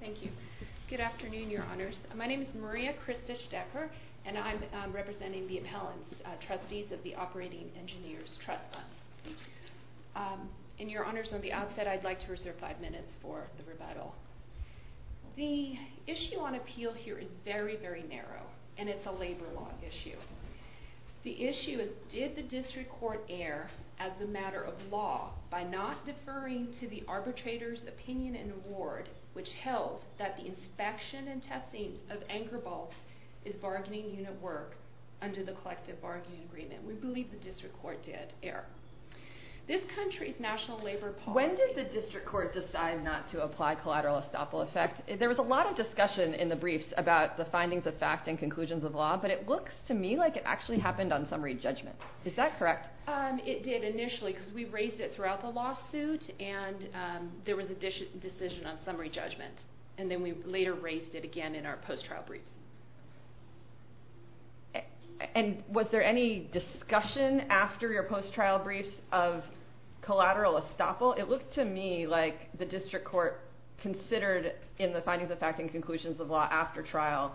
Thank you. Good afternoon, Your Honors. My name is Maria Christich-Decker, and I'm representing the appellants, trustees of the Operating Engineers Trust Fund. And Your Honors, on the outset, I'd like to reserve five minutes for the rebuttal. The issue on appeal here is very, very narrow, and it's a labor law issue. The issue is, did the district court err as a matter of law by not deferring to the arbitrator's opinion and award, which held that the inspection and testing of anchor bolts is bargaining unit work under the collective bargaining agreement. We believe the district court did err. This country's national labor policy... When did the district court decide not to apply collateral estoppel effect? There was a lot of discussion in the briefs about the findings of fact and conclusions of law, but it looks to me like it actually happened on summary judgment. Is that correct? It did initially, because we raised it throughout the lawsuit, and there was a decision on summary judgment. And then we later raised it again in our post-trial briefs. And was there any discussion after your post-trial briefs of collateral estoppel? It looked to me like the district court considered, in the findings of fact and conclusions of law after trial,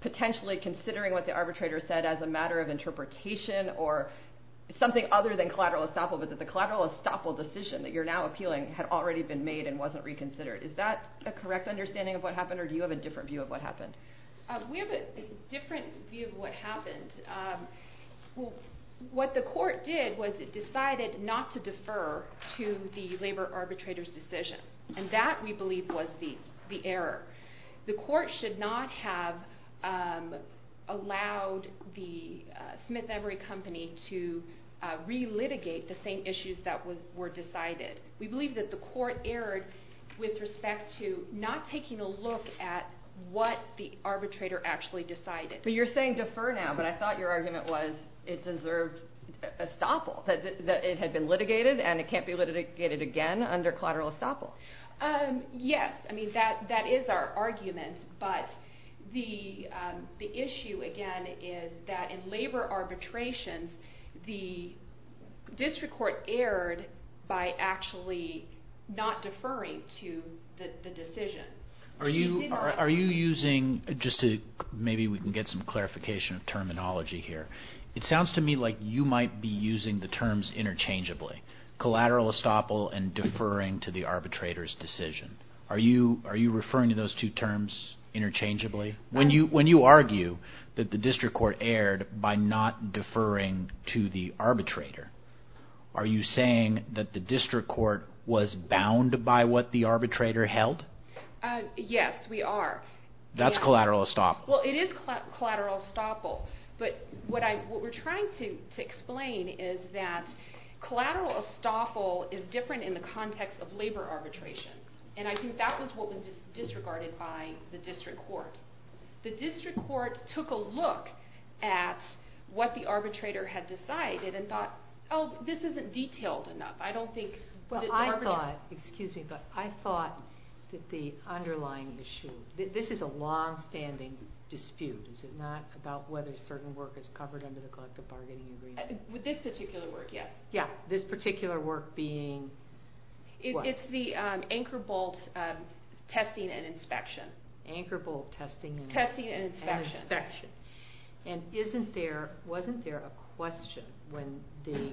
potentially considering what the arbitrator said as a matter of interpretation or something other than collateral estoppel, but that the collateral estoppel decision that you're now appealing had already been made and wasn't reconsidered. Is that a correct understanding of what happened, or do you have a different view of what happened? We have a different view of what happened. What the court did was it decided not to defer to the labor arbitrator's decision. And that, we believe, was the error. The court should not have allowed the Smith Emory Company to re-litigate the same issues that were decided. We believe that the court erred with respect to not taking a look at what the arbitrator actually decided. But you're saying defer now, but I thought your argument was it deserved estoppel. It had been litigated, and it can't be litigated again under collateral estoppel. Yes, that is our argument. But the issue, again, is that in labor arbitrations, the district court erred by actually not deferring to the decision. Are you using, just to maybe we can get some clarification of terminology here, it sounds to me like you might be using the terms interchangeably. Collateral estoppel and deferring to the arbitrator's decision. Are you referring to those two terms interchangeably? When you argue that the district court erred by not deferring to the arbitrator, are you saying that the district court was bound by what the arbitrator held? Yes, we are. That's collateral estoppel. Well, it is collateral estoppel. But what we're trying to explain is that collateral estoppel is different in the context of labor arbitration. And I think that was what was disregarded by the district court. The district court took a look at what the arbitrator had decided and thought, oh, this isn't detailed enough. I thought that the underlying issue, this is a longstanding dispute. Is it not about whether certain work is covered under the collective bargaining agreement? With this particular work, yes. Yeah, this particular work being what? It's the anchor bolt testing and inspection. Anchor bolt testing and inspection. And wasn't there a question when the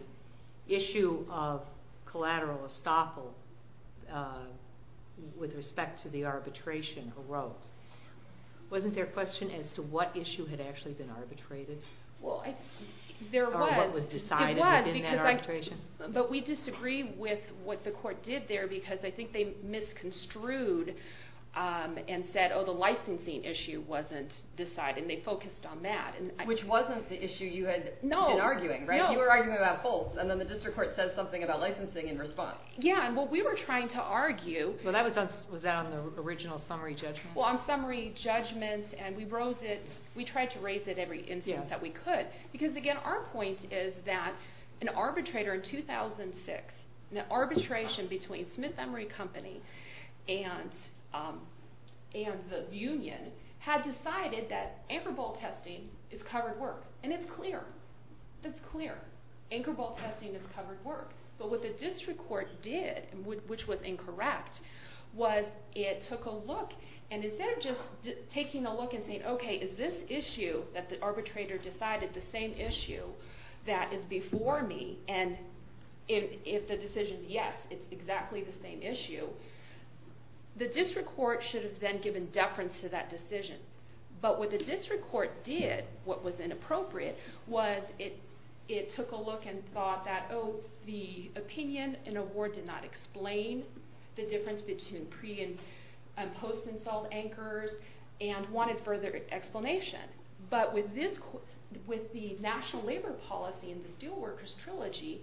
issue of collateral estoppel with respect to the arbitration arose? Wasn't there a question as to what issue had actually been arbitrated? Well, there was. Or what was decided within that arbitration. But we disagree with what the court did there because I think they misconstrued and said, oh, the licensing issue wasn't decided. And they focused on that. Which wasn't the issue you had been arguing, right? You were arguing about both. And then the district court said something about licensing in response. Yeah, and what we were trying to argue... Was that on the original summary judgment? Well, on summary judgment. And we tried to raise it every instance that we could. Because, again, our point is that an arbitrator in 2006, an arbitration between Smith Emory Company and the union had decided that anchor bolt testing is covered work. And it's clear. It's clear. Anchor bolt testing is covered work. But what the district court did, which was incorrect, was it took a look. And instead of just taking a look and saying, okay, is this issue that the arbitrator decided the same issue that is before me? And if the decision is yes, it's exactly the same issue. The district court should have then given deference to that decision. But what the district court did, what was inappropriate, was it took a look and thought that, oh, the opinion in a ward did not explain the difference between pre- and post-insult anchors and wanted further explanation. But with the national labor policy in the Steelworkers Trilogy,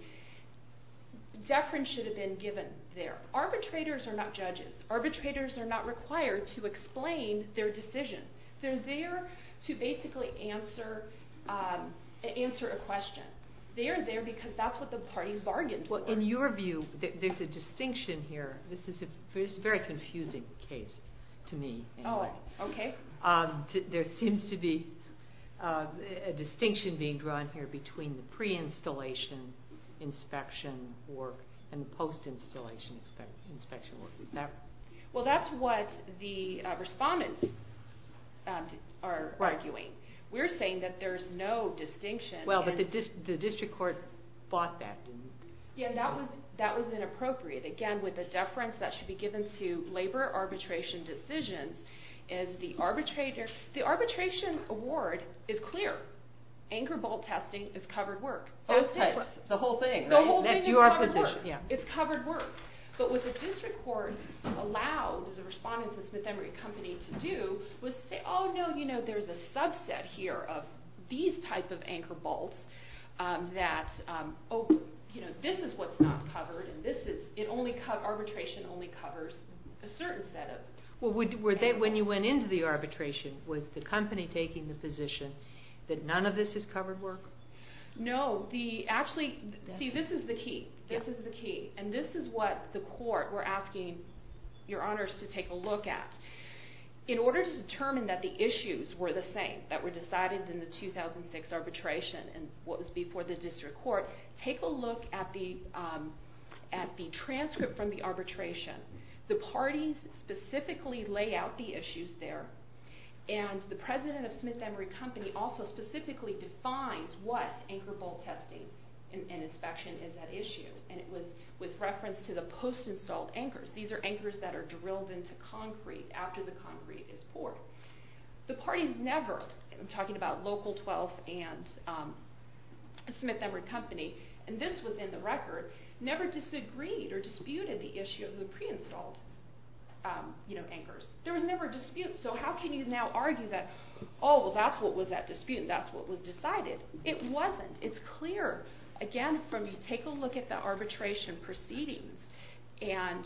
deference should have been given there. Arbitrators are not judges. Arbitrators are not required to explain their decision. They're there to basically answer a question. They're there because that's what the parties bargained for. Well, in your view, there's a distinction here. This is a very confusing case to me. Oh, okay. There seems to be a distinction being drawn here between the pre-installation inspection work and the post-installation inspection work. Well, that's what the respondents are arguing. We're saying that there's no distinction. Well, but the district court fought that, didn't it? Yeah, that was inappropriate. Again, with the deference that should be given to labor arbitration decisions, is the arbitrator... The arbitration award is clear. Anchor bolt testing is covered work. Both types. The whole thing, right? The whole thing is covered work. It's covered work. But what the district court allowed the respondents at Smith Emory Company to do was say, oh, no, you know, there's a subset here of these type of anchor bolts that, you know, this is what's not covered. Arbitration only covers a certain set of... Well, when you went into the arbitration, was the company taking the position that none of this is covered work? No. Actually, see, this is the key. And this is what the court were asking your honors to take a look at. In order to determine that the issues were the same, that were decided in the 2006 arbitration and what was before the district court, take a look at the transcript from the arbitration. The parties specifically lay out the issues there. And the president of Smith Emory Company also specifically defines what anchor bolt testing and inspection is at issue. And it was with reference to the post-installed anchors. These are anchors that are drilled into concrete after the concrete is poured. The parties never, I'm talking about Local 12 and Smith Emory Company, and this was in the record, never disagreed or disputed the issue of the pre-installed, you know, anchors. There was never a dispute. So how can you now argue that, oh, well, that's what was at dispute, and that's what was decided? It wasn't. It's clear, again, from you take a look at the arbitration proceedings, and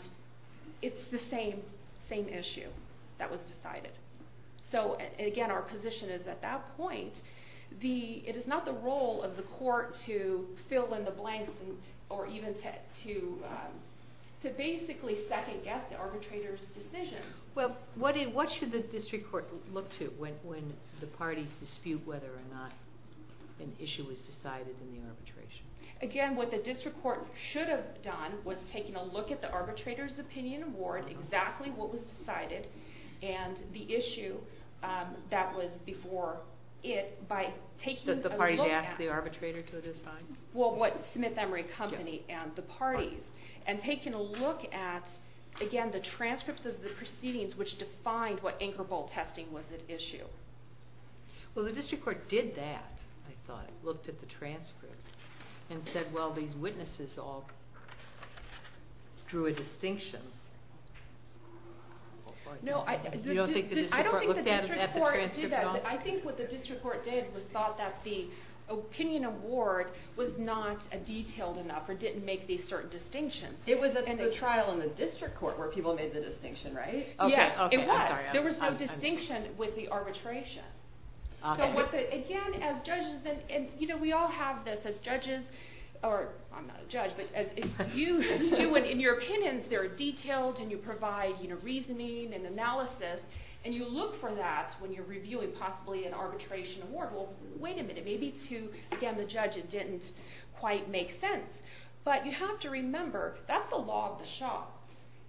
it's the same issue that was decided. So, again, our position is at that point, it is not the role of the court to fill in the blanks or even to basically second-guess the arbitrator's decision. Well, what should the district court look to when the parties dispute whether or not an issue was decided in the arbitration? Again, what the district court should have done was taking a look at the arbitrator's opinion award, exactly what was decided, and the issue that was before it by taking a look at it. The party to ask the arbitrator to assign? Well, what Smith Emory Company and the parties, and taking a look at, again, the transcripts of the proceedings which defined what anchor bolt testing was at issue. Well, the district court did that, I thought, looked at the transcripts, and said, well, these witnesses all drew a distinction. No, I don't think the district court did that. I think what the district court did was thought that the opinion award was not detailed enough or didn't make these certain distinctions. It was at the trial in the district court where people made the distinction, right? Yes, it was. There was no distinction with the arbitration. Again, as judges, and we all have this as judges, or I'm not a judge, but as you do, and in your opinions, they're detailed and you provide reasoning and analysis, and you look for that when you're reviewing possibly an arbitration award. Well, wait a minute. Maybe to, again, the judge, it didn't quite make sense. But you have to remember, that's the law of the shop.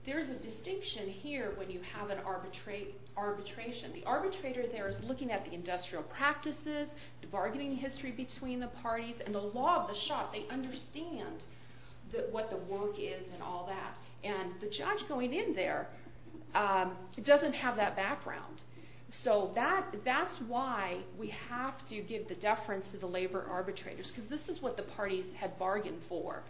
There's a distinction here when you have an arbitration. The arbitrator there is looking at the industrial practices, the bargaining history between the parties, and the law of the shop. They understand what the work is and all that. And the judge going in there doesn't have that background. So that's why we have to give the deference to the labor arbitrators, because this is what the parties had bargained for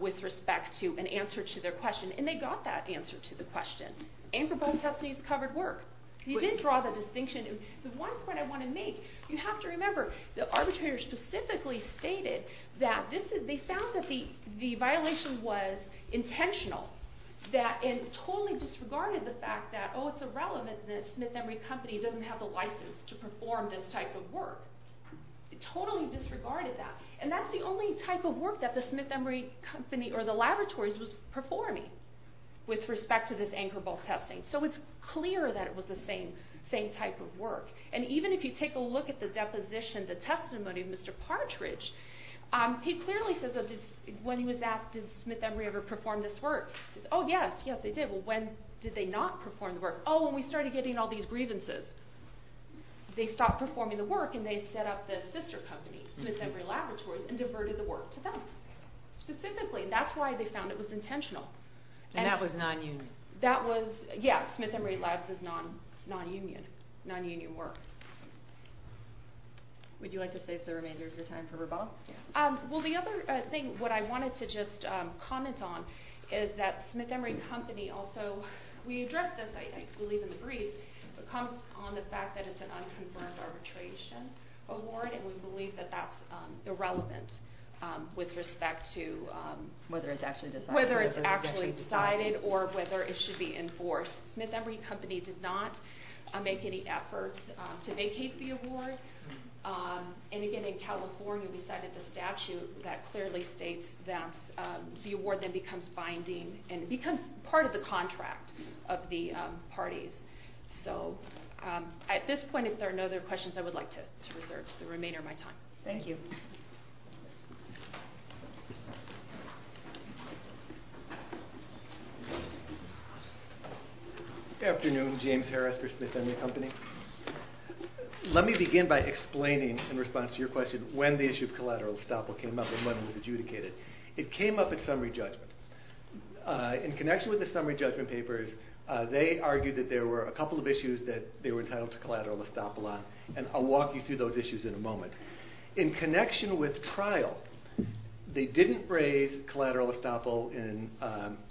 with respect to an answer to their question. And they got that answer to the question. And for both testimonies, it covered work. You did draw the distinction. The one point I want to make, you have to remember, the arbitrator specifically stated that they found that the violation was intentional, and totally disregarded the fact that, oh, it's irrelevant that Smith & Murray Company doesn't have the license to perform this type of work. It totally disregarded that. And that's the only type of work that the Smith & Murray Company or the laboratories was performing, with respect to this anchor ball testing. So it's clear that it was the same type of work. And even if you take a look at the deposition, the testimony of Mr. Partridge, he clearly says, when he was asked, did Smith & Murray ever perform this work? Oh, yes, yes, they did. Well, when did they not perform the work? Oh, when we started getting all these grievances. They stopped performing the work, and they set up the sister company, Smith & Murray Laboratories, and diverted the work to them. Specifically, that's why they found it was intentional. And that was non-union. That was, yes, Smith & Murray Labs is non-union. Non-union work. Would you like to save the remainder of your time for rebuttal? Well, the other thing, what I wanted to just comment on, is that Smith & Murray Company also, we addressed this, I believe, in the brief, comes on the fact that it's an unconfirmed arbitration award, and we believe that that's irrelevant with respect to... Whether it's actually decided. Whether it's actually decided, or whether it should be enforced. Smith & Murray Company did not make any efforts to vacate the award. And again, in California, we cited the statute that clearly states that the award then becomes binding, and becomes part of the contract of the parties. So, at this point, if there are no other questions, I would like to reserve the remainder of my time. Thank you. Good afternoon, James Harris for Smith & Murray Company. Let me begin by explaining, in response to your question, when the issue of collateral estoppel came up, and when it was adjudicated. It came up at summary judgment. In connection with the summary judgment papers, they argued that there were a couple of issues that they were entitled to collateral estoppel on, and I'll walk you through those issues in a moment. In connection with trial, they didn't raise collateral estoppel in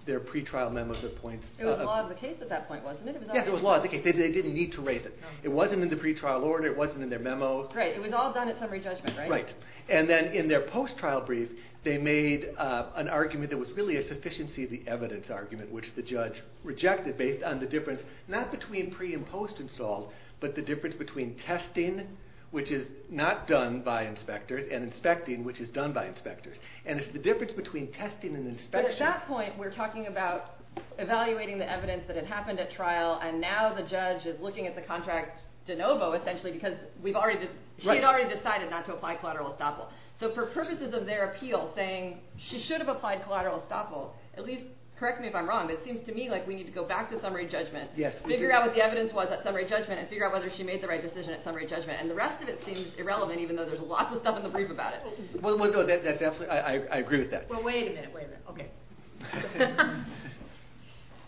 their pre-trial memos at points... It was law of the case at that point, wasn't it? Yes, it was law of the case. They didn't need to raise it. It wasn't in the pre-trial order. It wasn't in their memos. Right. It was all done at summary judgment, right? Right. And then, in their post-trial brief, they made an argument that was really a sufficiency of the evidence argument, which the judge rejected, based on the difference, not between pre- and post-installs, but the difference between testing, which is not done by inspectors, and inspecting, which is done by inspectors. And it's the difference between testing and inspection... But at that point, we're talking about evaluating the evidence that it happened at trial, and now the judge is looking at the contract de novo, essentially, because she had already decided not to apply collateral estoppel. So, for purposes of their appeal, saying, she should have applied collateral estoppel, at least, correct me if I'm wrong, but it seems to me like we need to go back to summary judgment, figure out what the evidence was at summary judgment, and figure out whether she made the right decision at summary judgment. And the rest of it seems irrelevant, even though there's lots of stuff in the brief about it. Well, no, that's absolutely... I agree with that. Well, wait a minute. Wait a minute. Okay.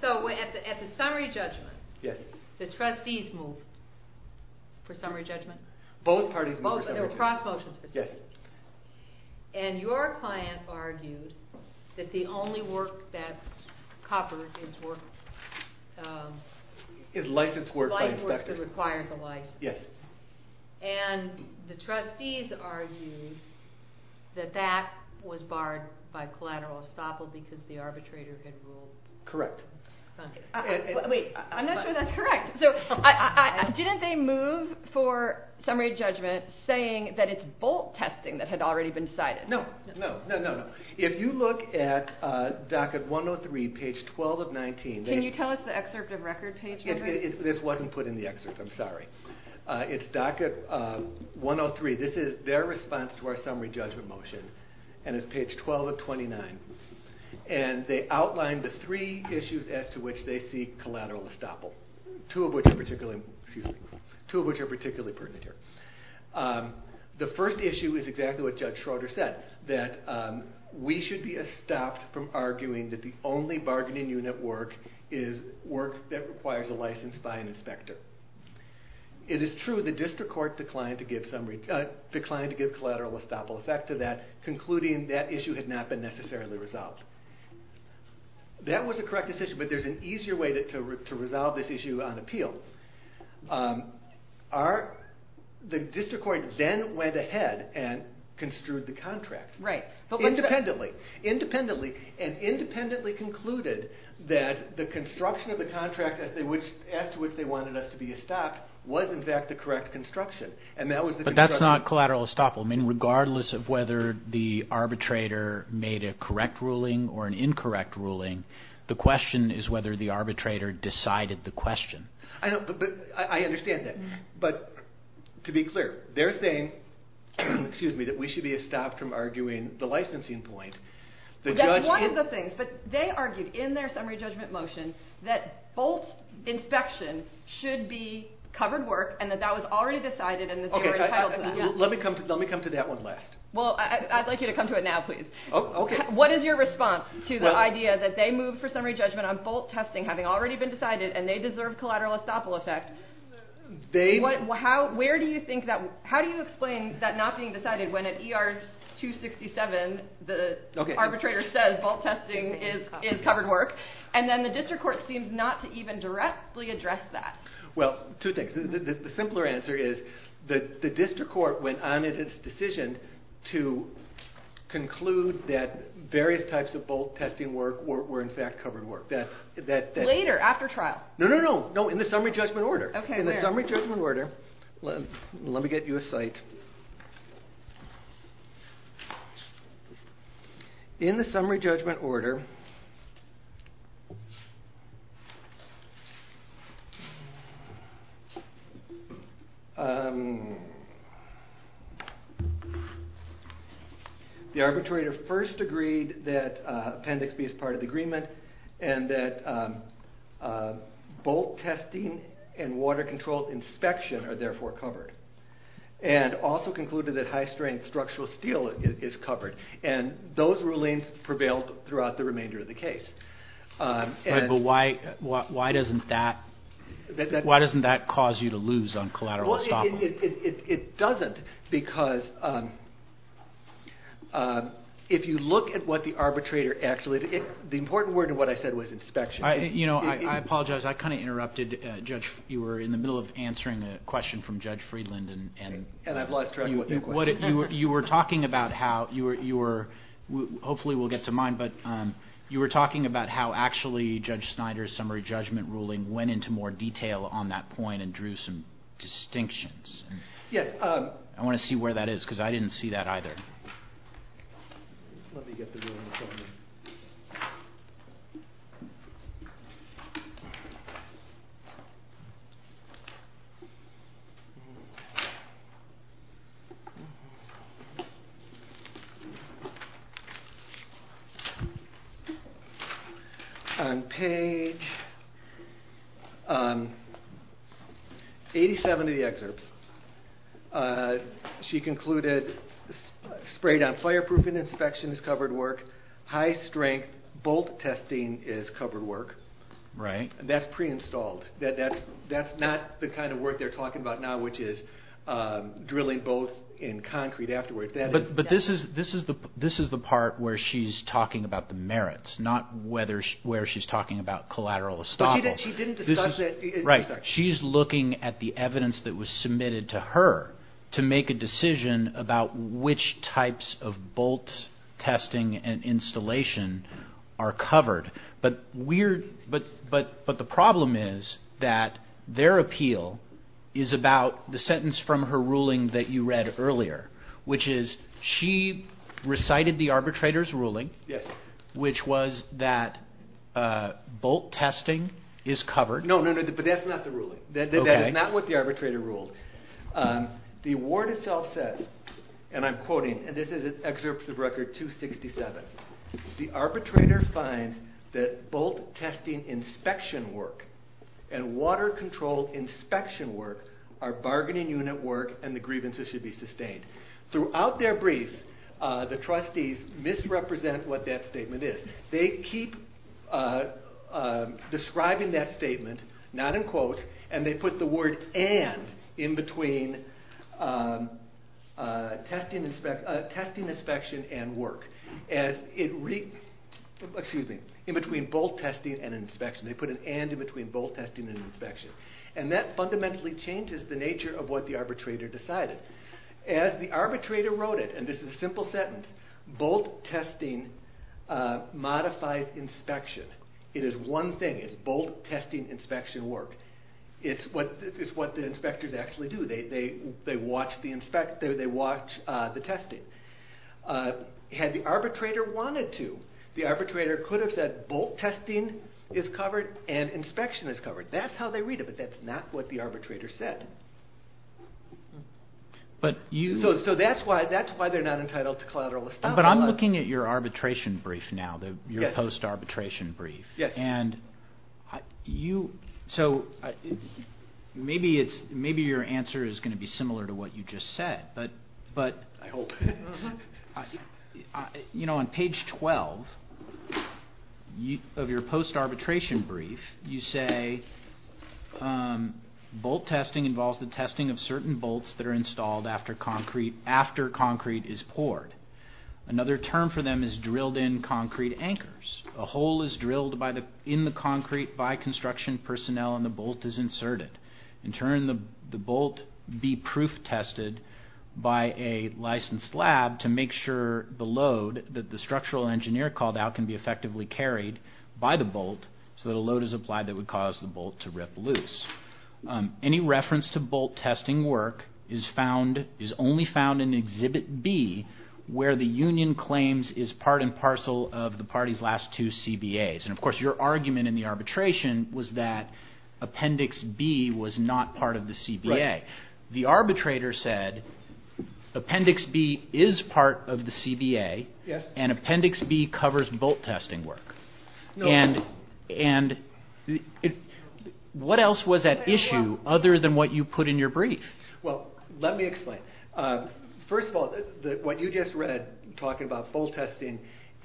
So, at the summary judgment, the trustees moved for summary judgment? Both parties moved for summary judgment. Oh, so there were cross motions for summary judgment. Yes. And your client argued that the only work that's covered is work... Is licensed work by inspectors. Licensed work that requires a license. Yes. And the trustees argued that that was barred by collateral estoppel because the arbitrator had ruled... Correct. Wait, I'm not sure that's correct. Didn't they move for summary judgment saying that it's bolt testing that had already been decided? No. No, no, no. If you look at docket 103, page 12 of 19... Can you tell us the excerpt of record page number? This wasn't put in the excerpt. I'm sorry. It's docket 103. This is their response to our summary judgment motion. And it's page 12 of 29. And they outlined the three issues as to which they see collateral estoppel. Two of which are particularly pertinent here. The first issue is exactly what Judge Schroeder said, that we should be stopped from arguing that the only bargaining unit work is work that requires a license by an inspector. It is true the district court declined to give collateral estoppel effect to that, concluding that issue had not been necessarily resolved. That was a correct decision, but there's an easier way to resolve this issue on appeal. The district court then went ahead and construed the contract. Right. Independently. Independently. And independently concluded that the construction of the contract as to which they wanted us to be estopped was in fact the correct construction. But that's not collateral estoppel. Regardless of whether the arbitrator made a correct ruling or an incorrect ruling, the question is whether the arbitrator decided the question. I understand that. But to be clear, they're saying that we should be estopped from arguing the licensing point. That's one of the things. But they argued in their summary judgment motion that both inspection should be covered work and that that was already decided and that they were entitled to that. Let me come to that one last. Well, I'd like you to come to it now, please. Okay. What is your response to the idea that they moved for summary judgment on bolt testing having already been decided and they deserve collateral estoppel effect? How do you explain that not being decided when at ER 267 the arbitrator says bolt testing is covered work and then the district court seems not to even directly address that? Well, two things. The simpler answer is the district court went on in its decision to conclude that various types of bolt testing work were in fact covered work. Later, after trial? No, no, no. In the summary judgment order. Okay, where? In the summary judgment order. Let me get you a site. Okay. In the summary judgment order, the arbitrator first agreed that appendix B is part of the agreement and that bolt testing and water controlled inspection are therefore covered. And also concluded that high-strain structural steel is covered. And those rulings prevailed throughout the remainder of the case. But why doesn't that cause you to lose on collateral estoppel? Well, it doesn't because if you look at what the arbitrator actually did, the important word in what I said was inspection. You know, I apologize. I kind of interrupted. You were in the middle of answering a question from Judge Friedland. And I've lost track of what your question was. You were talking about how, hopefully we'll get to mine, but you were talking about how actually Judge Snyder's summary judgment ruling went into more detail on that point and drew some distinctions. Yes. I want to see where that is because I didn't see that either. Let me get the ruling. On page 87 of the excerpt, she concluded, sprayed-on fireproofing inspection is covered work, high-strength bolt testing is covered work. Right. That's pre-installed. That's not the kind of work they're talking about now, which is drilling bolts in concrete afterwards. But this is the part where she's talking about the merits, not where she's talking about collateral estoppel. She didn't discuss that. Right. She's looking at the evidence that was submitted to her to make a decision about which types of bolt testing and installation are covered. But the problem is that their appeal is about the sentence from her ruling that you read earlier, which is she recited the arbitrator's ruling, which was that bolt testing is covered. No, but that's not the ruling. That is not what the arbitrator ruled. The award itself says, and I'm quoting, and this is an excerpt of Record 267, the arbitrator finds that bolt testing inspection work and water control inspection work are bargaining unit work and the grievances should be sustained. Throughout their brief, the trustees misrepresent what that statement is. They keep describing that statement, not in quotes, and they put the word and in between testing inspection and work. Excuse me, in between bolt testing and inspection. They put an and in between bolt testing and inspection. And that fundamentally changes the nature of what the arbitrator decided. As the arbitrator wrote it, and this is a simple sentence, bolt testing modifies inspection. It is one thing. It's bolt testing inspection work. It's what the inspectors actually do. They watch the testing. Had the arbitrator wanted to, the arbitrator could have said bolt testing is covered and inspection is covered. That's how they read it, but that's not what the arbitrator said. So that's why they're not entitled to collateral establishment. But I'm looking at your arbitration brief now, your post-arbitration brief. Yes. So maybe your answer is going to be similar to what you just said. I hope. You know, on page 12 of your post-arbitration brief, you say bolt testing involves the testing of certain bolts that are installed after concrete is poured. Another term for them is drilled-in concrete anchors. A hole is drilled in the concrete by construction personnel and the bolt is inserted. In turn, the bolt be proof tested by a licensed lab to make sure the load that the structural engineer called out can be effectively carried by the bolt so that a load is applied that would cause the bolt to rip loose. Any reference to bolt testing work is only found in Exhibit B, where the union claims is part and parcel of the party's last two CBAs. And, of course, your argument in the arbitration was that Appendix B was not part of the CBA. The arbitrator said Appendix B is part of the CBA and Appendix B covers bolt testing work. And what else was at issue other than what you put in your brief? Well, let me explain. First of all, what you just read talking about bolt testing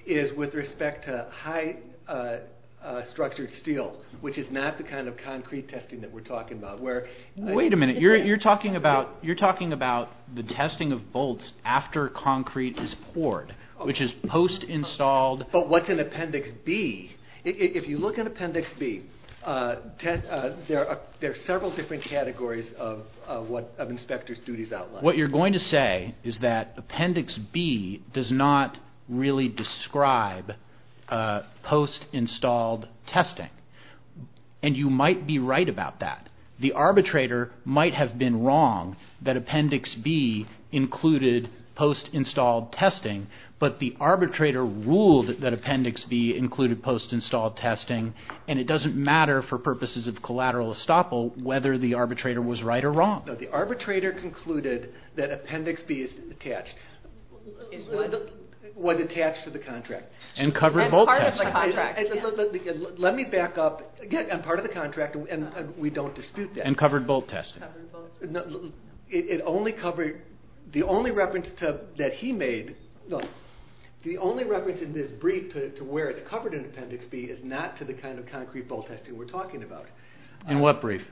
is with respect to high-structured steel, which is not the kind of concrete testing that we're talking about. Wait a minute. You're talking about the testing of bolts after concrete is poured, which is post-installed. But what's in Appendix B? If you look in Appendix B, there are several different categories of inspectors' duties outlined. What you're going to say is that Appendix B does not really describe post-installed testing. And you might be right about that. The arbitrator might have been wrong that Appendix B included post-installed testing, but the arbitrator ruled that Appendix B included post-installed testing, and it doesn't matter for purposes of collateral estoppel whether the arbitrator was right or wrong. No, the arbitrator concluded that Appendix B was attached to the contract. And covered bolt testing. And part of the contract. Let me back up. Again, and part of the contract, and we don't dispute that. And covered bolt testing. The only reference that he made, the only reference in this brief to where it's covered in Appendix B is not to the kind of concrete bolt testing we're talking about. In what brief?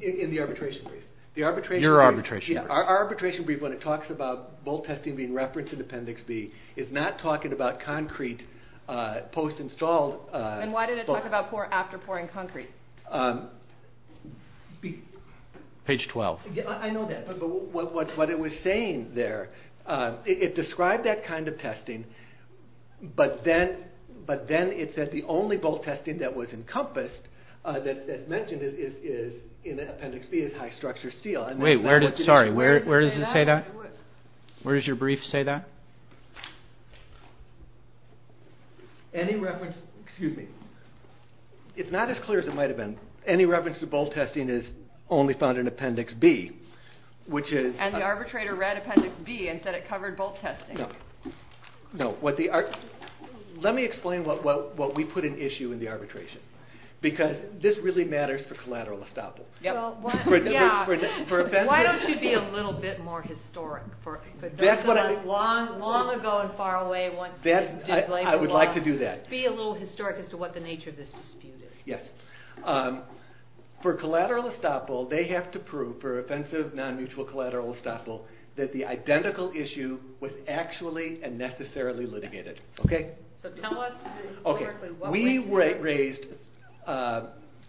In the arbitration brief. The arbitration brief. Your arbitration brief. Yeah, our arbitration brief, when it talks about bolt testing being referenced in Appendix B, is not talking about concrete post-installed bolts. And why did it talk about after pouring concrete? Page 12. I know that, but what it was saying there, it described that kind of testing, but then it said the only bolt testing that was encompassed that's mentioned in Appendix B is high-structure steel. Wait, sorry, where does it say that? Where does your brief say that? Any reference, excuse me. It's not as clear as it might have been. Any reference to bolt testing is only found in Appendix B, which is... And the arbitrator read Appendix B and said it covered bolt testing. No. Let me explain what we put in issue in the arbitration. Because this really matters for collateral estoppel. Yeah. Why don't you be a little bit more historic? That's what I... Long ago and far away... I would like to do that. Be a little historic as to what the nature of this dispute is. Yes. For collateral estoppel, they have to prove, for offensive non-mutual collateral estoppel, that the identical issue was actually and necessarily litigated. Okay? So tell us... We raised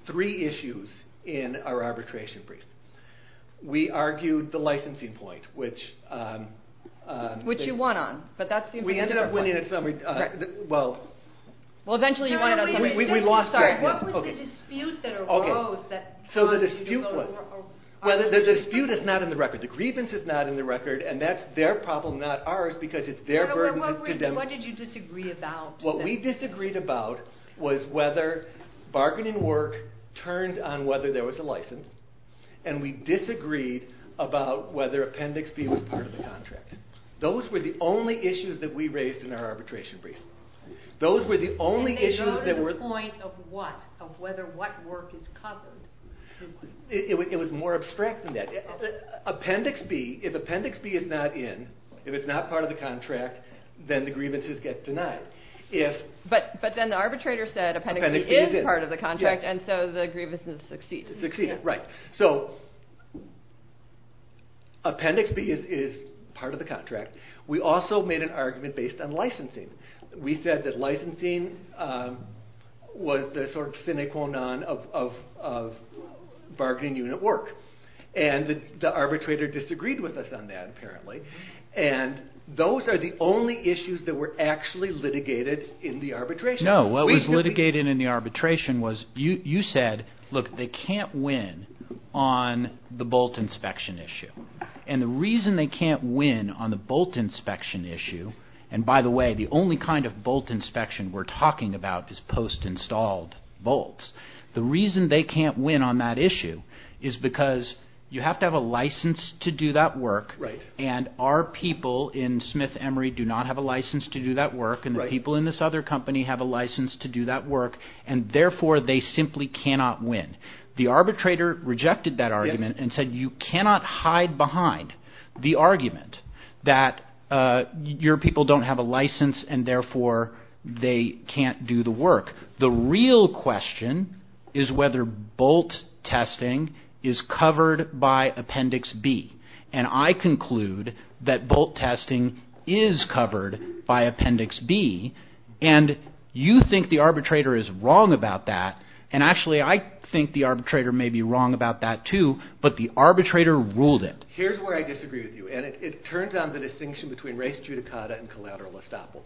three issues in our arbitration brief. We argued the licensing point, which... Which you won on, but that seems to be a different point. We ended up winning a summary... Well... Well, eventually you won it on summary. We lost... Sorry. What was the dispute that arose that... Okay. So the dispute was... Well, the dispute is not in the record. The grievance is not in the record, and that's their problem, not ours, because it's their burden to them. What did you disagree about? What we disagreed about was whether bargaining work turned on whether there was a license, and we disagreed about whether Appendix B was part of the contract. Those were the only issues that we raised in our arbitration brief. Those were the only issues that were... And they got to the point of what, of whether what work is covered. It was more abstract than that. Appendix B, if Appendix B is not in, if it's not part of the contract, then the grievances get denied. But then the arbitrator said Appendix B is part of the contract, and so the grievances succeeded. Succeeded, right. So Appendix B is part of the contract. We also made an argument based on licensing. We said that licensing was the sort of sine qua non of bargaining unit work, and the arbitrator disagreed with us on that, apparently, and those are the only issues that were actually litigated in the arbitration. No, what was litigated in the arbitration was you said, look, they can't win on the bolt inspection issue, and the reason they can't win on the bolt inspection issue, and by the way, the only kind of bolt inspection we're talking about is post-installed bolts. The reason they can't win on that issue is because you have to have a license to do that work, and our people in Smith Emery do not have a license to do that work, and the people in this other company have a license to do that work, and therefore they simply cannot win. The arbitrator rejected that argument and said you cannot hide behind the argument that your people don't have a license and therefore they can't do the work. The real question is whether bolt testing is covered by Appendix B, and I conclude that bolt testing is covered by Appendix B, and you think the arbitrator is wrong about that, and actually I think the arbitrator may be wrong about that too, but the arbitrator ruled it. Here's where I disagree with you, and it turns on the distinction between race judicata and collateral estoppel.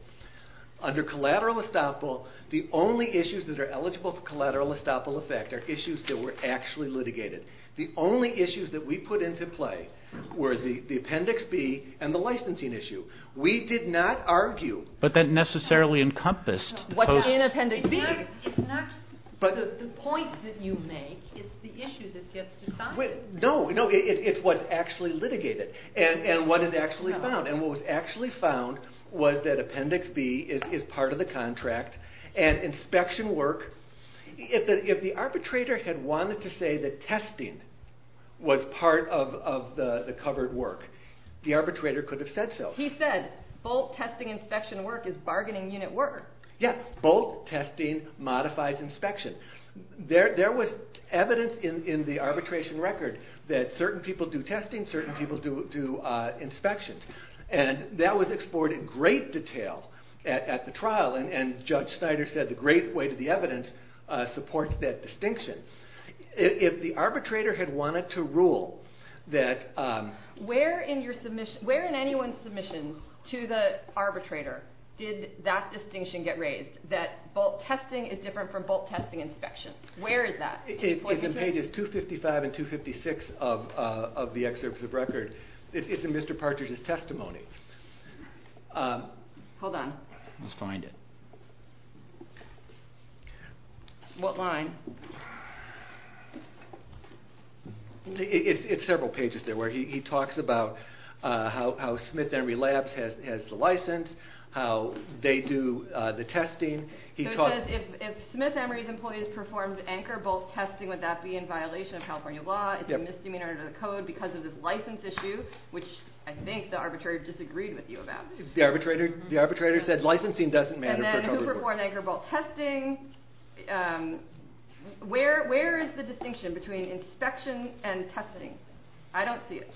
Under collateral estoppel, the only issues that are eligible for collateral estoppel effect are issues that were actually litigated. The only issues that we put into play were the Appendix B and the licensing issue. We did not argue. But that necessarily encompassed the post. It's not the point that you make, it's the issue that gets decided. No, it's what's actually litigated and what is actually found, and what was actually found was that Appendix B is part of the contract and inspection work. If the arbitrator had wanted to say that testing was part of the covered work, the arbitrator could have said so. He said bolt testing inspection work is bargaining unit work. Yes, bolt testing modifies inspection. There was evidence in the arbitration record that certain people do testing, certain people do inspections, and that was explored in great detail at the trial, and Judge Snyder said the great weight of the evidence supports that distinction. If the arbitrator had wanted to rule that... Where in anyone's submission to the arbitrator did that distinction get raised, that bolt testing is different from bolt testing inspection? Where is that? It's in pages 255 and 256 of the excerpts of record. It's in Mr. Partridge's testimony. Hold on. Let's find it. What line? It's several pages there where he talks about how Smith Emory Labs has the license, how they do the testing. It says if Smith Emory's employees performed anchor bolt testing, would that be in violation of California law? Is there misdemeanor to the code because of this license issue, which I think the arbitrator disagreed with you about. The arbitrator said licensing doesn't matter. And then who performed anchor bolt testing. Where is the distinction between inspection and testing? I don't see it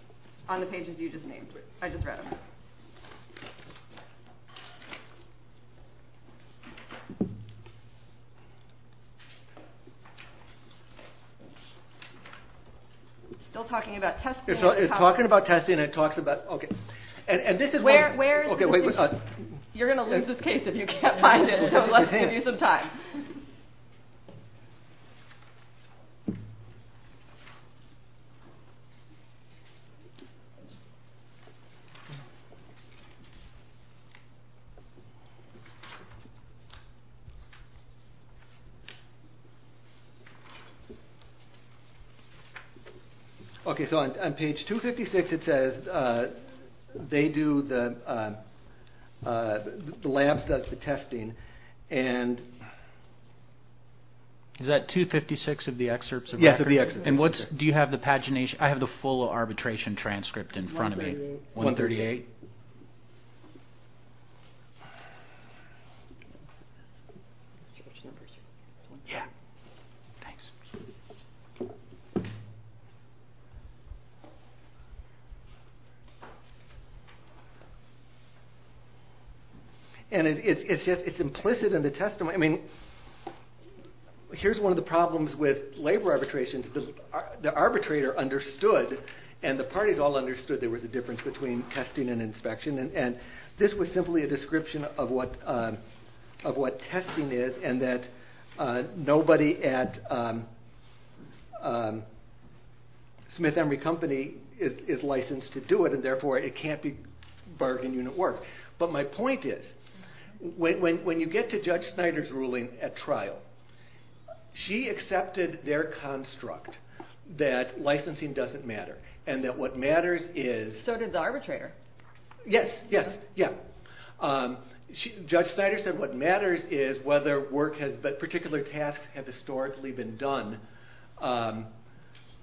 on the pages you just named. I just read them. Still talking about testing. It's talking about testing. You're going to lose this case if you can't find it, so let's give you some time. On page 256 it says the labs does the testing. Is that 256 of the excerpts? Yes. Do you have the pagination? I have the full arbitration transcript in front of me. 138. It's implicit in the testimony. Here's one of the problems with labor arbitrations. The arbitrator understood and the parties all understood there was a difference between testing and inspection. This was simply a description of what testing is and that nobody at Smith Emory Company is licensed to do it and therefore it can't be bargained in at work. But my point is when you get to Judge Snyder's ruling at trial, she accepted their construct that licensing doesn't matter and that what matters is... So did the arbitrator. Yes. Judge Snyder said what matters is whether particular tasks have historically been done by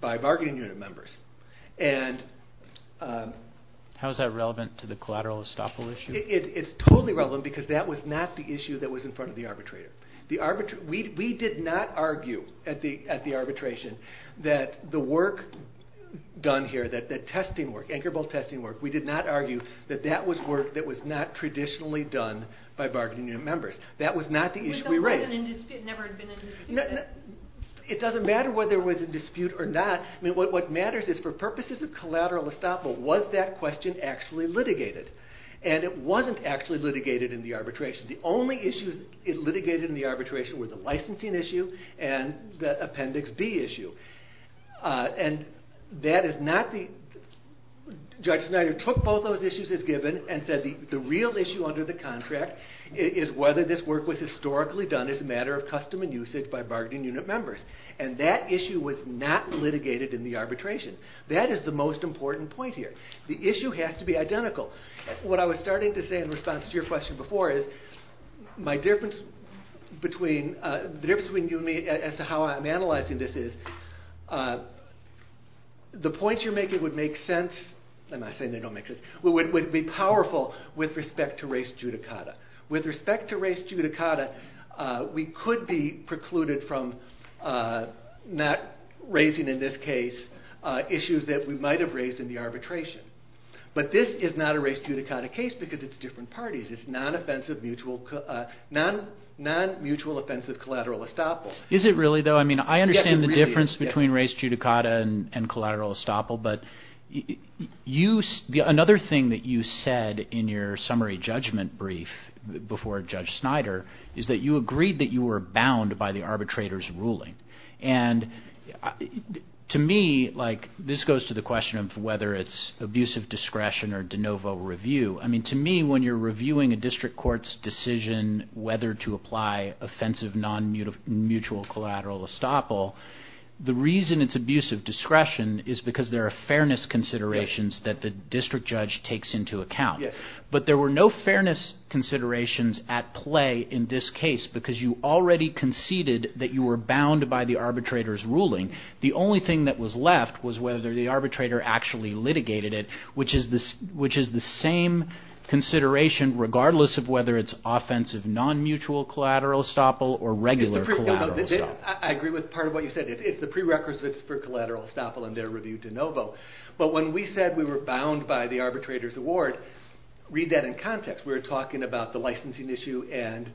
bargaining unit members. How is that relevant to the collateral estoppel issue? It's totally relevant because that was not the issue that was in front of the arbitrator. We did not argue at the arbitration that the work done here, that testing work, anchor bolt testing work, we did not argue that that was work that was not traditionally done by bargaining unit members. That was not the issue we raised. It never had been in dispute. It doesn't matter whether it was in dispute or not. What matters is for purposes of collateral estoppel, was that question actually litigated? And it wasn't actually litigated in the arbitration. The only issues it litigated in the arbitration were the licensing issue and the Appendix B issue. And that is not the... Judge Snyder took both those issues as given and said the real issue under the contract is whether this work was historically done as a matter of custom and usage by bargaining unit members. And that issue was not litigated in the arbitration. That is the most important point here. The issue has to be identical. What I was starting to say in response to your question before is the difference between you and me as to how I'm analyzing this is the points you're making would make sense... I'm not saying they don't make sense... would be powerful with respect to race judicata. With respect to race judicata, we could be precluded from not raising, in this case, issues that we might have raised in the arbitration. But this is not a race judicata case because it's different parties. It's non-offensive mutual... non-mutual offensive collateral estoppel. Is it really, though? I understand the difference between race judicata and collateral estoppel, but another thing that you said in your summary judgment brief before Judge Snyder is that you agreed that you were bound by the arbitrator's ruling. And to me, this goes to the question of whether it's abusive discretion or de novo review. To me, when you're reviewing a district court's decision whether to apply offensive non-mutual collateral estoppel, the reason it's abusive discretion is because there are fairness considerations that the district judge takes into account. But there were no fairness considerations at play in this case because you already conceded that you were bound by the arbitrator's ruling. The only thing that was left was whether the arbitrator actually litigated it, which is the same consideration regardless of whether it's offensive non-mutual collateral estoppel or regular collateral estoppel. I agree with part of what you said. It's the prerequisites for collateral estoppel and their review de novo. But when we said we were bound by the arbitrator's award, read that in context. We were talking about the licensing issue and...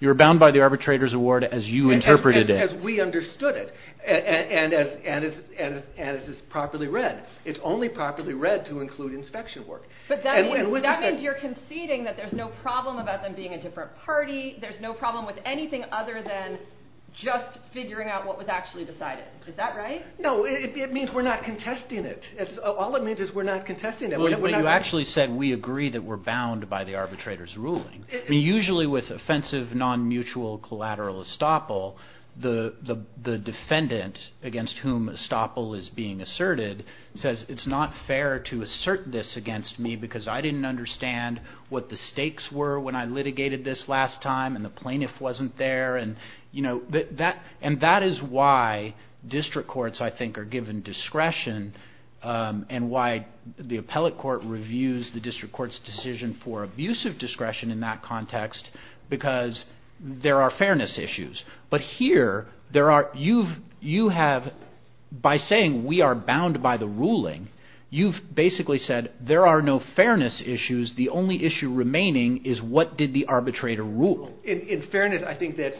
You were bound by the arbitrator's award as you interpreted it. As we understood it. And as is properly read. It's only properly read to include inspection work. But that means you're conceding that there's no problem about them being a different party. There's no problem with anything other than just figuring out what was actually decided. Is that right? No, it means we're not contesting it. All it means is we're not contesting it. You actually said we agree that we're bound by the arbitrator's ruling. Usually with offensive non-mutual collateral estoppel, the defendant against whom estoppel is being asserted says it's not fair to assert this against me because I didn't understand what the stakes were when I litigated this last time and the plaintiff wasn't there. And that is why district courts, I think, are given discretion and why the appellate court reviews the district court's decision for abusive discretion in that context because there are fairness issues. But here, by saying we are bound by the ruling, you've basically said there are no fairness issues. The only issue remaining is what did the arbitrator rule. In fairness, I think that's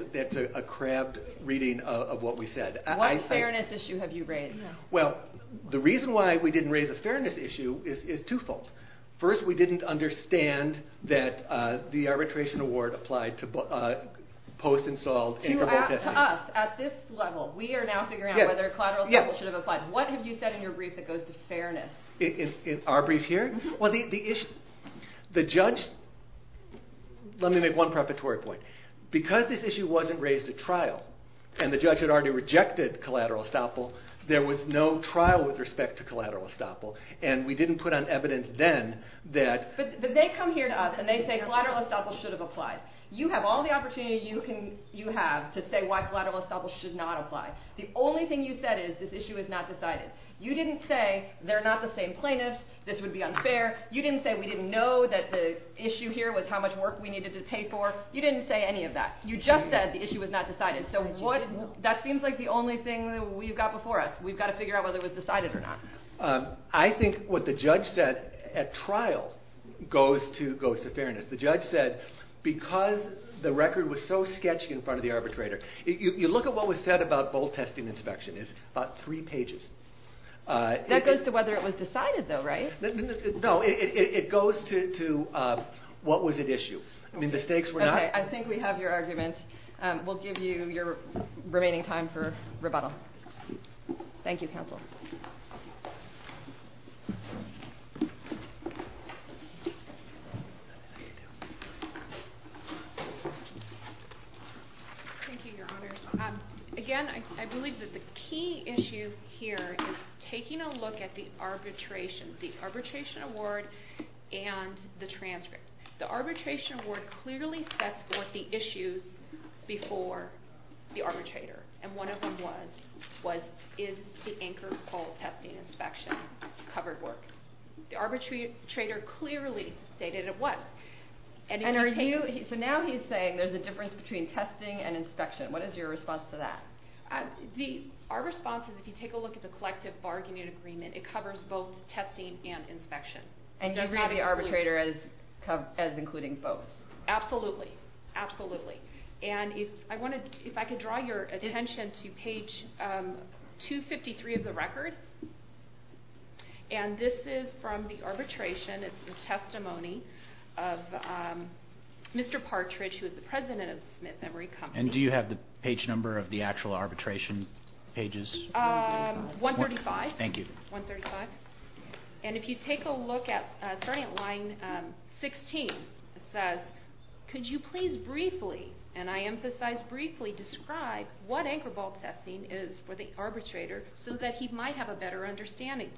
a crabbed reading of what we said. What fairness issue have you raised? Well, the reason why we didn't raise a fairness issue is twofold. First, we didn't understand that the arbitration award should have applied to post-installed... To us, at this level, we are now figuring out whether collateral estoppel should have applied. What have you said in your brief that goes to fairness? In our brief here? Well, the issue... The judge... Let me make one preparatory point. Because this issue wasn't raised at trial and the judge had already rejected collateral estoppel, there was no trial with respect to collateral estoppel and we didn't put on evidence then that... But they come here to us and they say collateral estoppel should have applied. You have all the opportunity you have to say why collateral estoppel should not apply. The only thing you said is this issue is not decided. You didn't say they're not the same plaintiffs, this would be unfair. You didn't say we didn't know that the issue here was how much work we needed to pay for. You didn't say any of that. You just said the issue was not decided. So that seems like the only thing we've got before us. We've got to figure out whether it was decided or not. I think what the judge said at trial goes to fairness. The judge said because the record was so sketchy in front of the arbitrator... You look at what was said about both testing and inspection. It's about three pages. That goes to whether it was decided, though, right? No, it goes to what was at issue. I mean, the stakes were not... Okay, I think we have your argument. We'll give you your remaining time for rebuttal. Thank you, counsel. Thank you. Thank you, Your Honor. Again, I believe that the key issue here is taking a look at the arbitration, the arbitration award and the transcript. The arbitration award clearly sets forth the issues before the arbitrator, and one of them was, is the anchor poll testing and inspection covered work? The arbitrator clearly stated it was. So now he's saying there's a difference between testing and inspection. What is your response to that? Our response is if you take a look at the collective bargaining agreement, it covers both testing and inspection. And you read the arbitrator as including both. Absolutely, absolutely. And if I could draw your attention to page 253 of the record. And this is from the arbitration. It's the testimony of Mr. Partridge, who is the president of Smith Memory Company. And do you have the page number of the actual arbitration pages? 135. Thank you. 135. And if you take a look at starting at line 16, it says, could you please briefly, and I emphasize briefly, describe what anchor bolt testing is for the arbitrator so that he might have a better understanding?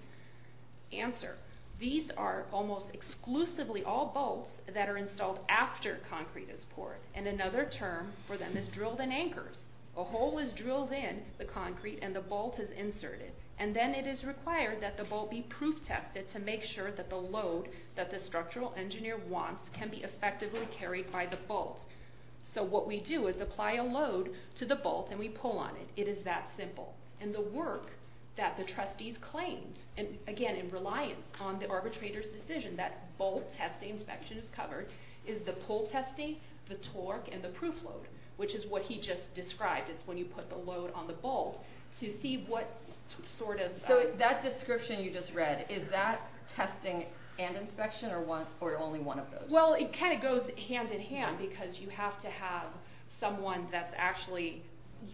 Answer. These are almost exclusively all bolts that are installed after concrete is poured. And another term for them is drilled in anchors. A hole is drilled in the concrete and the bolt is inserted. And then it is required that the bolt be proof tested to make sure that the load that the structural engineer wants can be effectively carried by the bolt. So what we do is apply a load to the bolt and we pull on it. It is that simple. And the work that the trustees claimed, and again, in reliance on the arbitrator's decision that bolt testing inspection is covered, is the pull testing, the torque, and the proof load, which is what he just described. It's when you put the load on the bolt to see what sort of... So that description you just read, is that testing and inspection or only one of those? Well, it kind of goes hand in hand because you have to have someone that's actually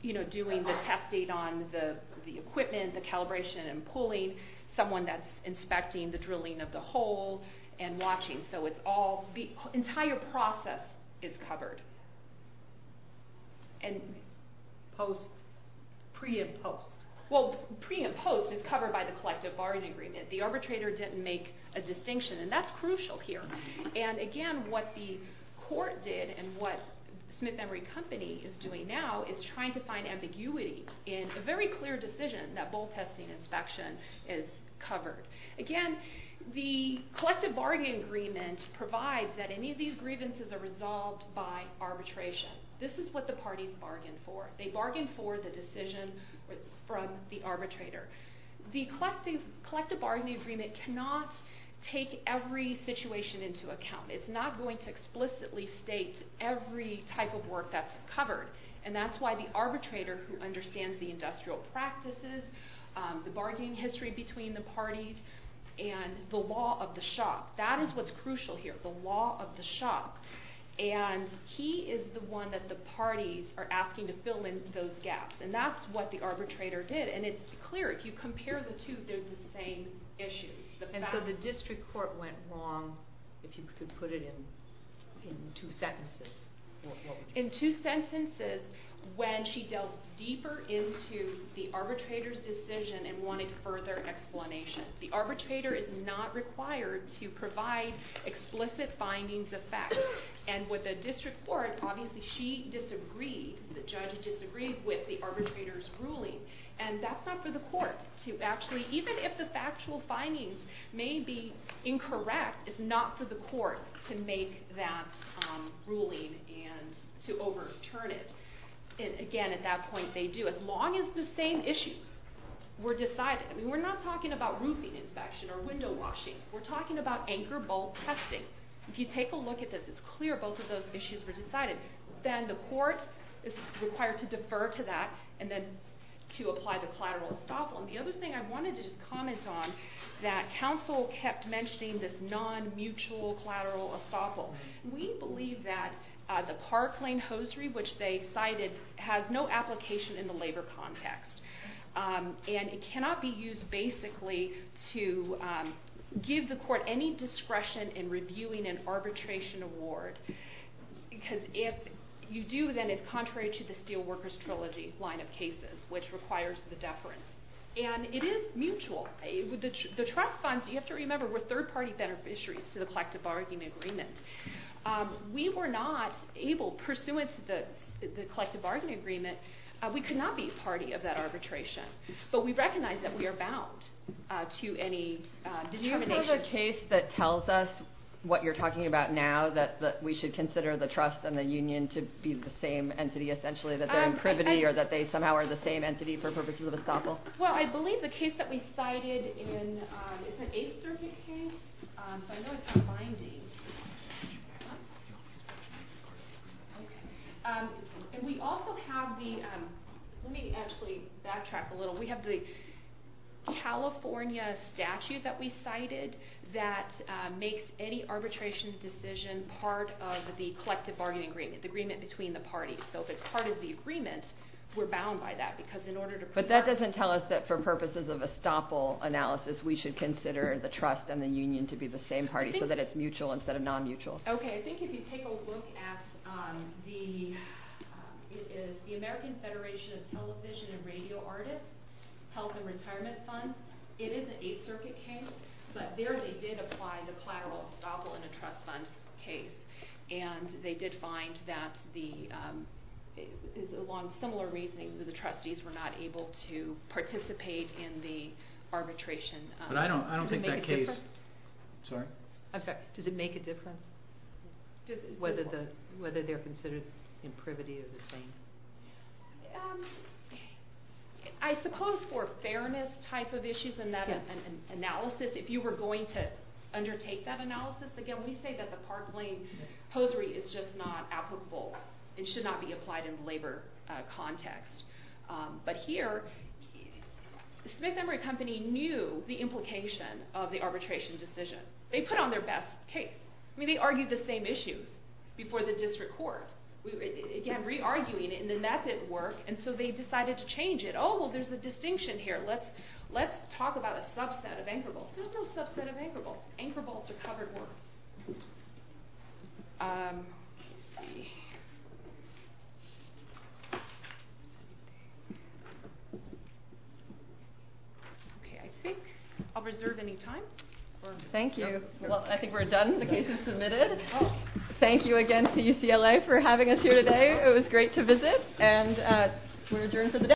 doing the testing on the equipment, the calibration and pulling, someone that's inspecting the drilling of the hole and watching. So it's all... The entire process is covered. And post... Pre and post. Well, pre and post is covered by the collective bargain agreement. The arbitrator didn't make a distinction and that's crucial here. And again, what the court did and what Smith Emery Company is doing now is trying to find ambiguity in a very clear decision that bolt testing inspection is covered. Again, the collective bargain agreement provides that any of these grievances are resolved by arbitration. This is what the parties bargained for. They bargained for the decision from the arbitrator. The collective bargaining agreement cannot take every situation into account. It's not going to explicitly state every type of work that's covered. And that's why the arbitrator who understands the industrial practices, the bargaining history between the parties and the law of the shop. That is what's crucial here, the law of the shop. And he is the one that the parties are asking to fill in those gaps. And that's what the arbitrator did. And it's clear. If you compare the two, they're the same issues. And so the district court went wrong, if you could put it in two sentences. In two sentences, when she delved deeper into the arbitrator's decision and wanted further explanation. The arbitrator is not required to provide explicit findings of fact. And with the district court, obviously she disagreed, the judge disagreed with the arbitrator's ruling. And that's not for the court to actually, even if the factual findings may be incorrect, it's not for the court to make that ruling and to overturn it. And again, at that point, they do. As long as the same issues were decided. We're not talking about roofing inspection or window washing. We're talking about anchor bolt testing. If you take a look at this, it's clear both of those issues were decided. Then the court is required to defer to that and then to apply the collateral estoppel. And the other thing I wanted to just comment on, that counsel kept mentioning this non-mutual collateral estoppel. We believe that the park lane hosiery, which they cited, has no application in the labor context. And it cannot be used basically to give the court any discretion in reviewing an arbitration award. Because if you do, then it's contrary to the Steelworkers Trilogy line of cases, which requires the deference. And it is mutual. The trust funds, you have to remember, were third party beneficiaries to the collective bargaining agreement. We were not able, pursuant to the collective bargaining agreement, we could not be a party of that arbitration. But we recognize that we are bound to any determination. Is there a case that tells us what you're talking about now, that we should consider the trust and the union to be the same entity, essentially that they're in privity or that they somehow are the same entity for purposes of estoppel? Well, I believe the case that we cited is an Eighth Circuit case. So I know it's not binding. And we also have the, let me actually backtrack a little. We have the California statute that we cited that makes any arbitration decision part of the collective bargaining agreement, the agreement between the parties. So if it's part of the agreement, we're bound by that. But that doesn't tell us that for purposes of estoppel analysis we should consider the trust and the union to be the same party, so that it's mutual instead of non-mutual. Okay, I think if you take a look at the American Federation of Television and Radio Artists Health and Retirement Fund, it is an Eighth Circuit case, but there they did apply the collateral estoppel in a trust fund case. And they did find that the, along similar reasoning, that the trustees were not able to participate in the arbitration. But I don't think that case... Does it make a difference? Sorry? I'm sorry, does it make a difference? Whether they're considered in privity or the same? I suppose for fairness type of issues in that analysis, if you were going to undertake that analysis, again, we say that the Park Lane Posery is just not applicable. It should not be applied in the labor context. But here, Smith Emory Company knew the implication of the arbitration decision. They put on their best case. I mean, they argued the same issues before the district court. Again, re-arguing it, and then that didn't work. And so they decided to change it. Oh, well, there's a distinction here. Let's talk about a subset of anchor bolts. There's no subset of anchor bolts. Anchor bolts are covered work. Okay, I think I'll reserve any time. Thank you. Well, I think we're done. The case is submitted. Thank you again to UCLA for having us here today. It was great to visit. And we're adjourned for the day.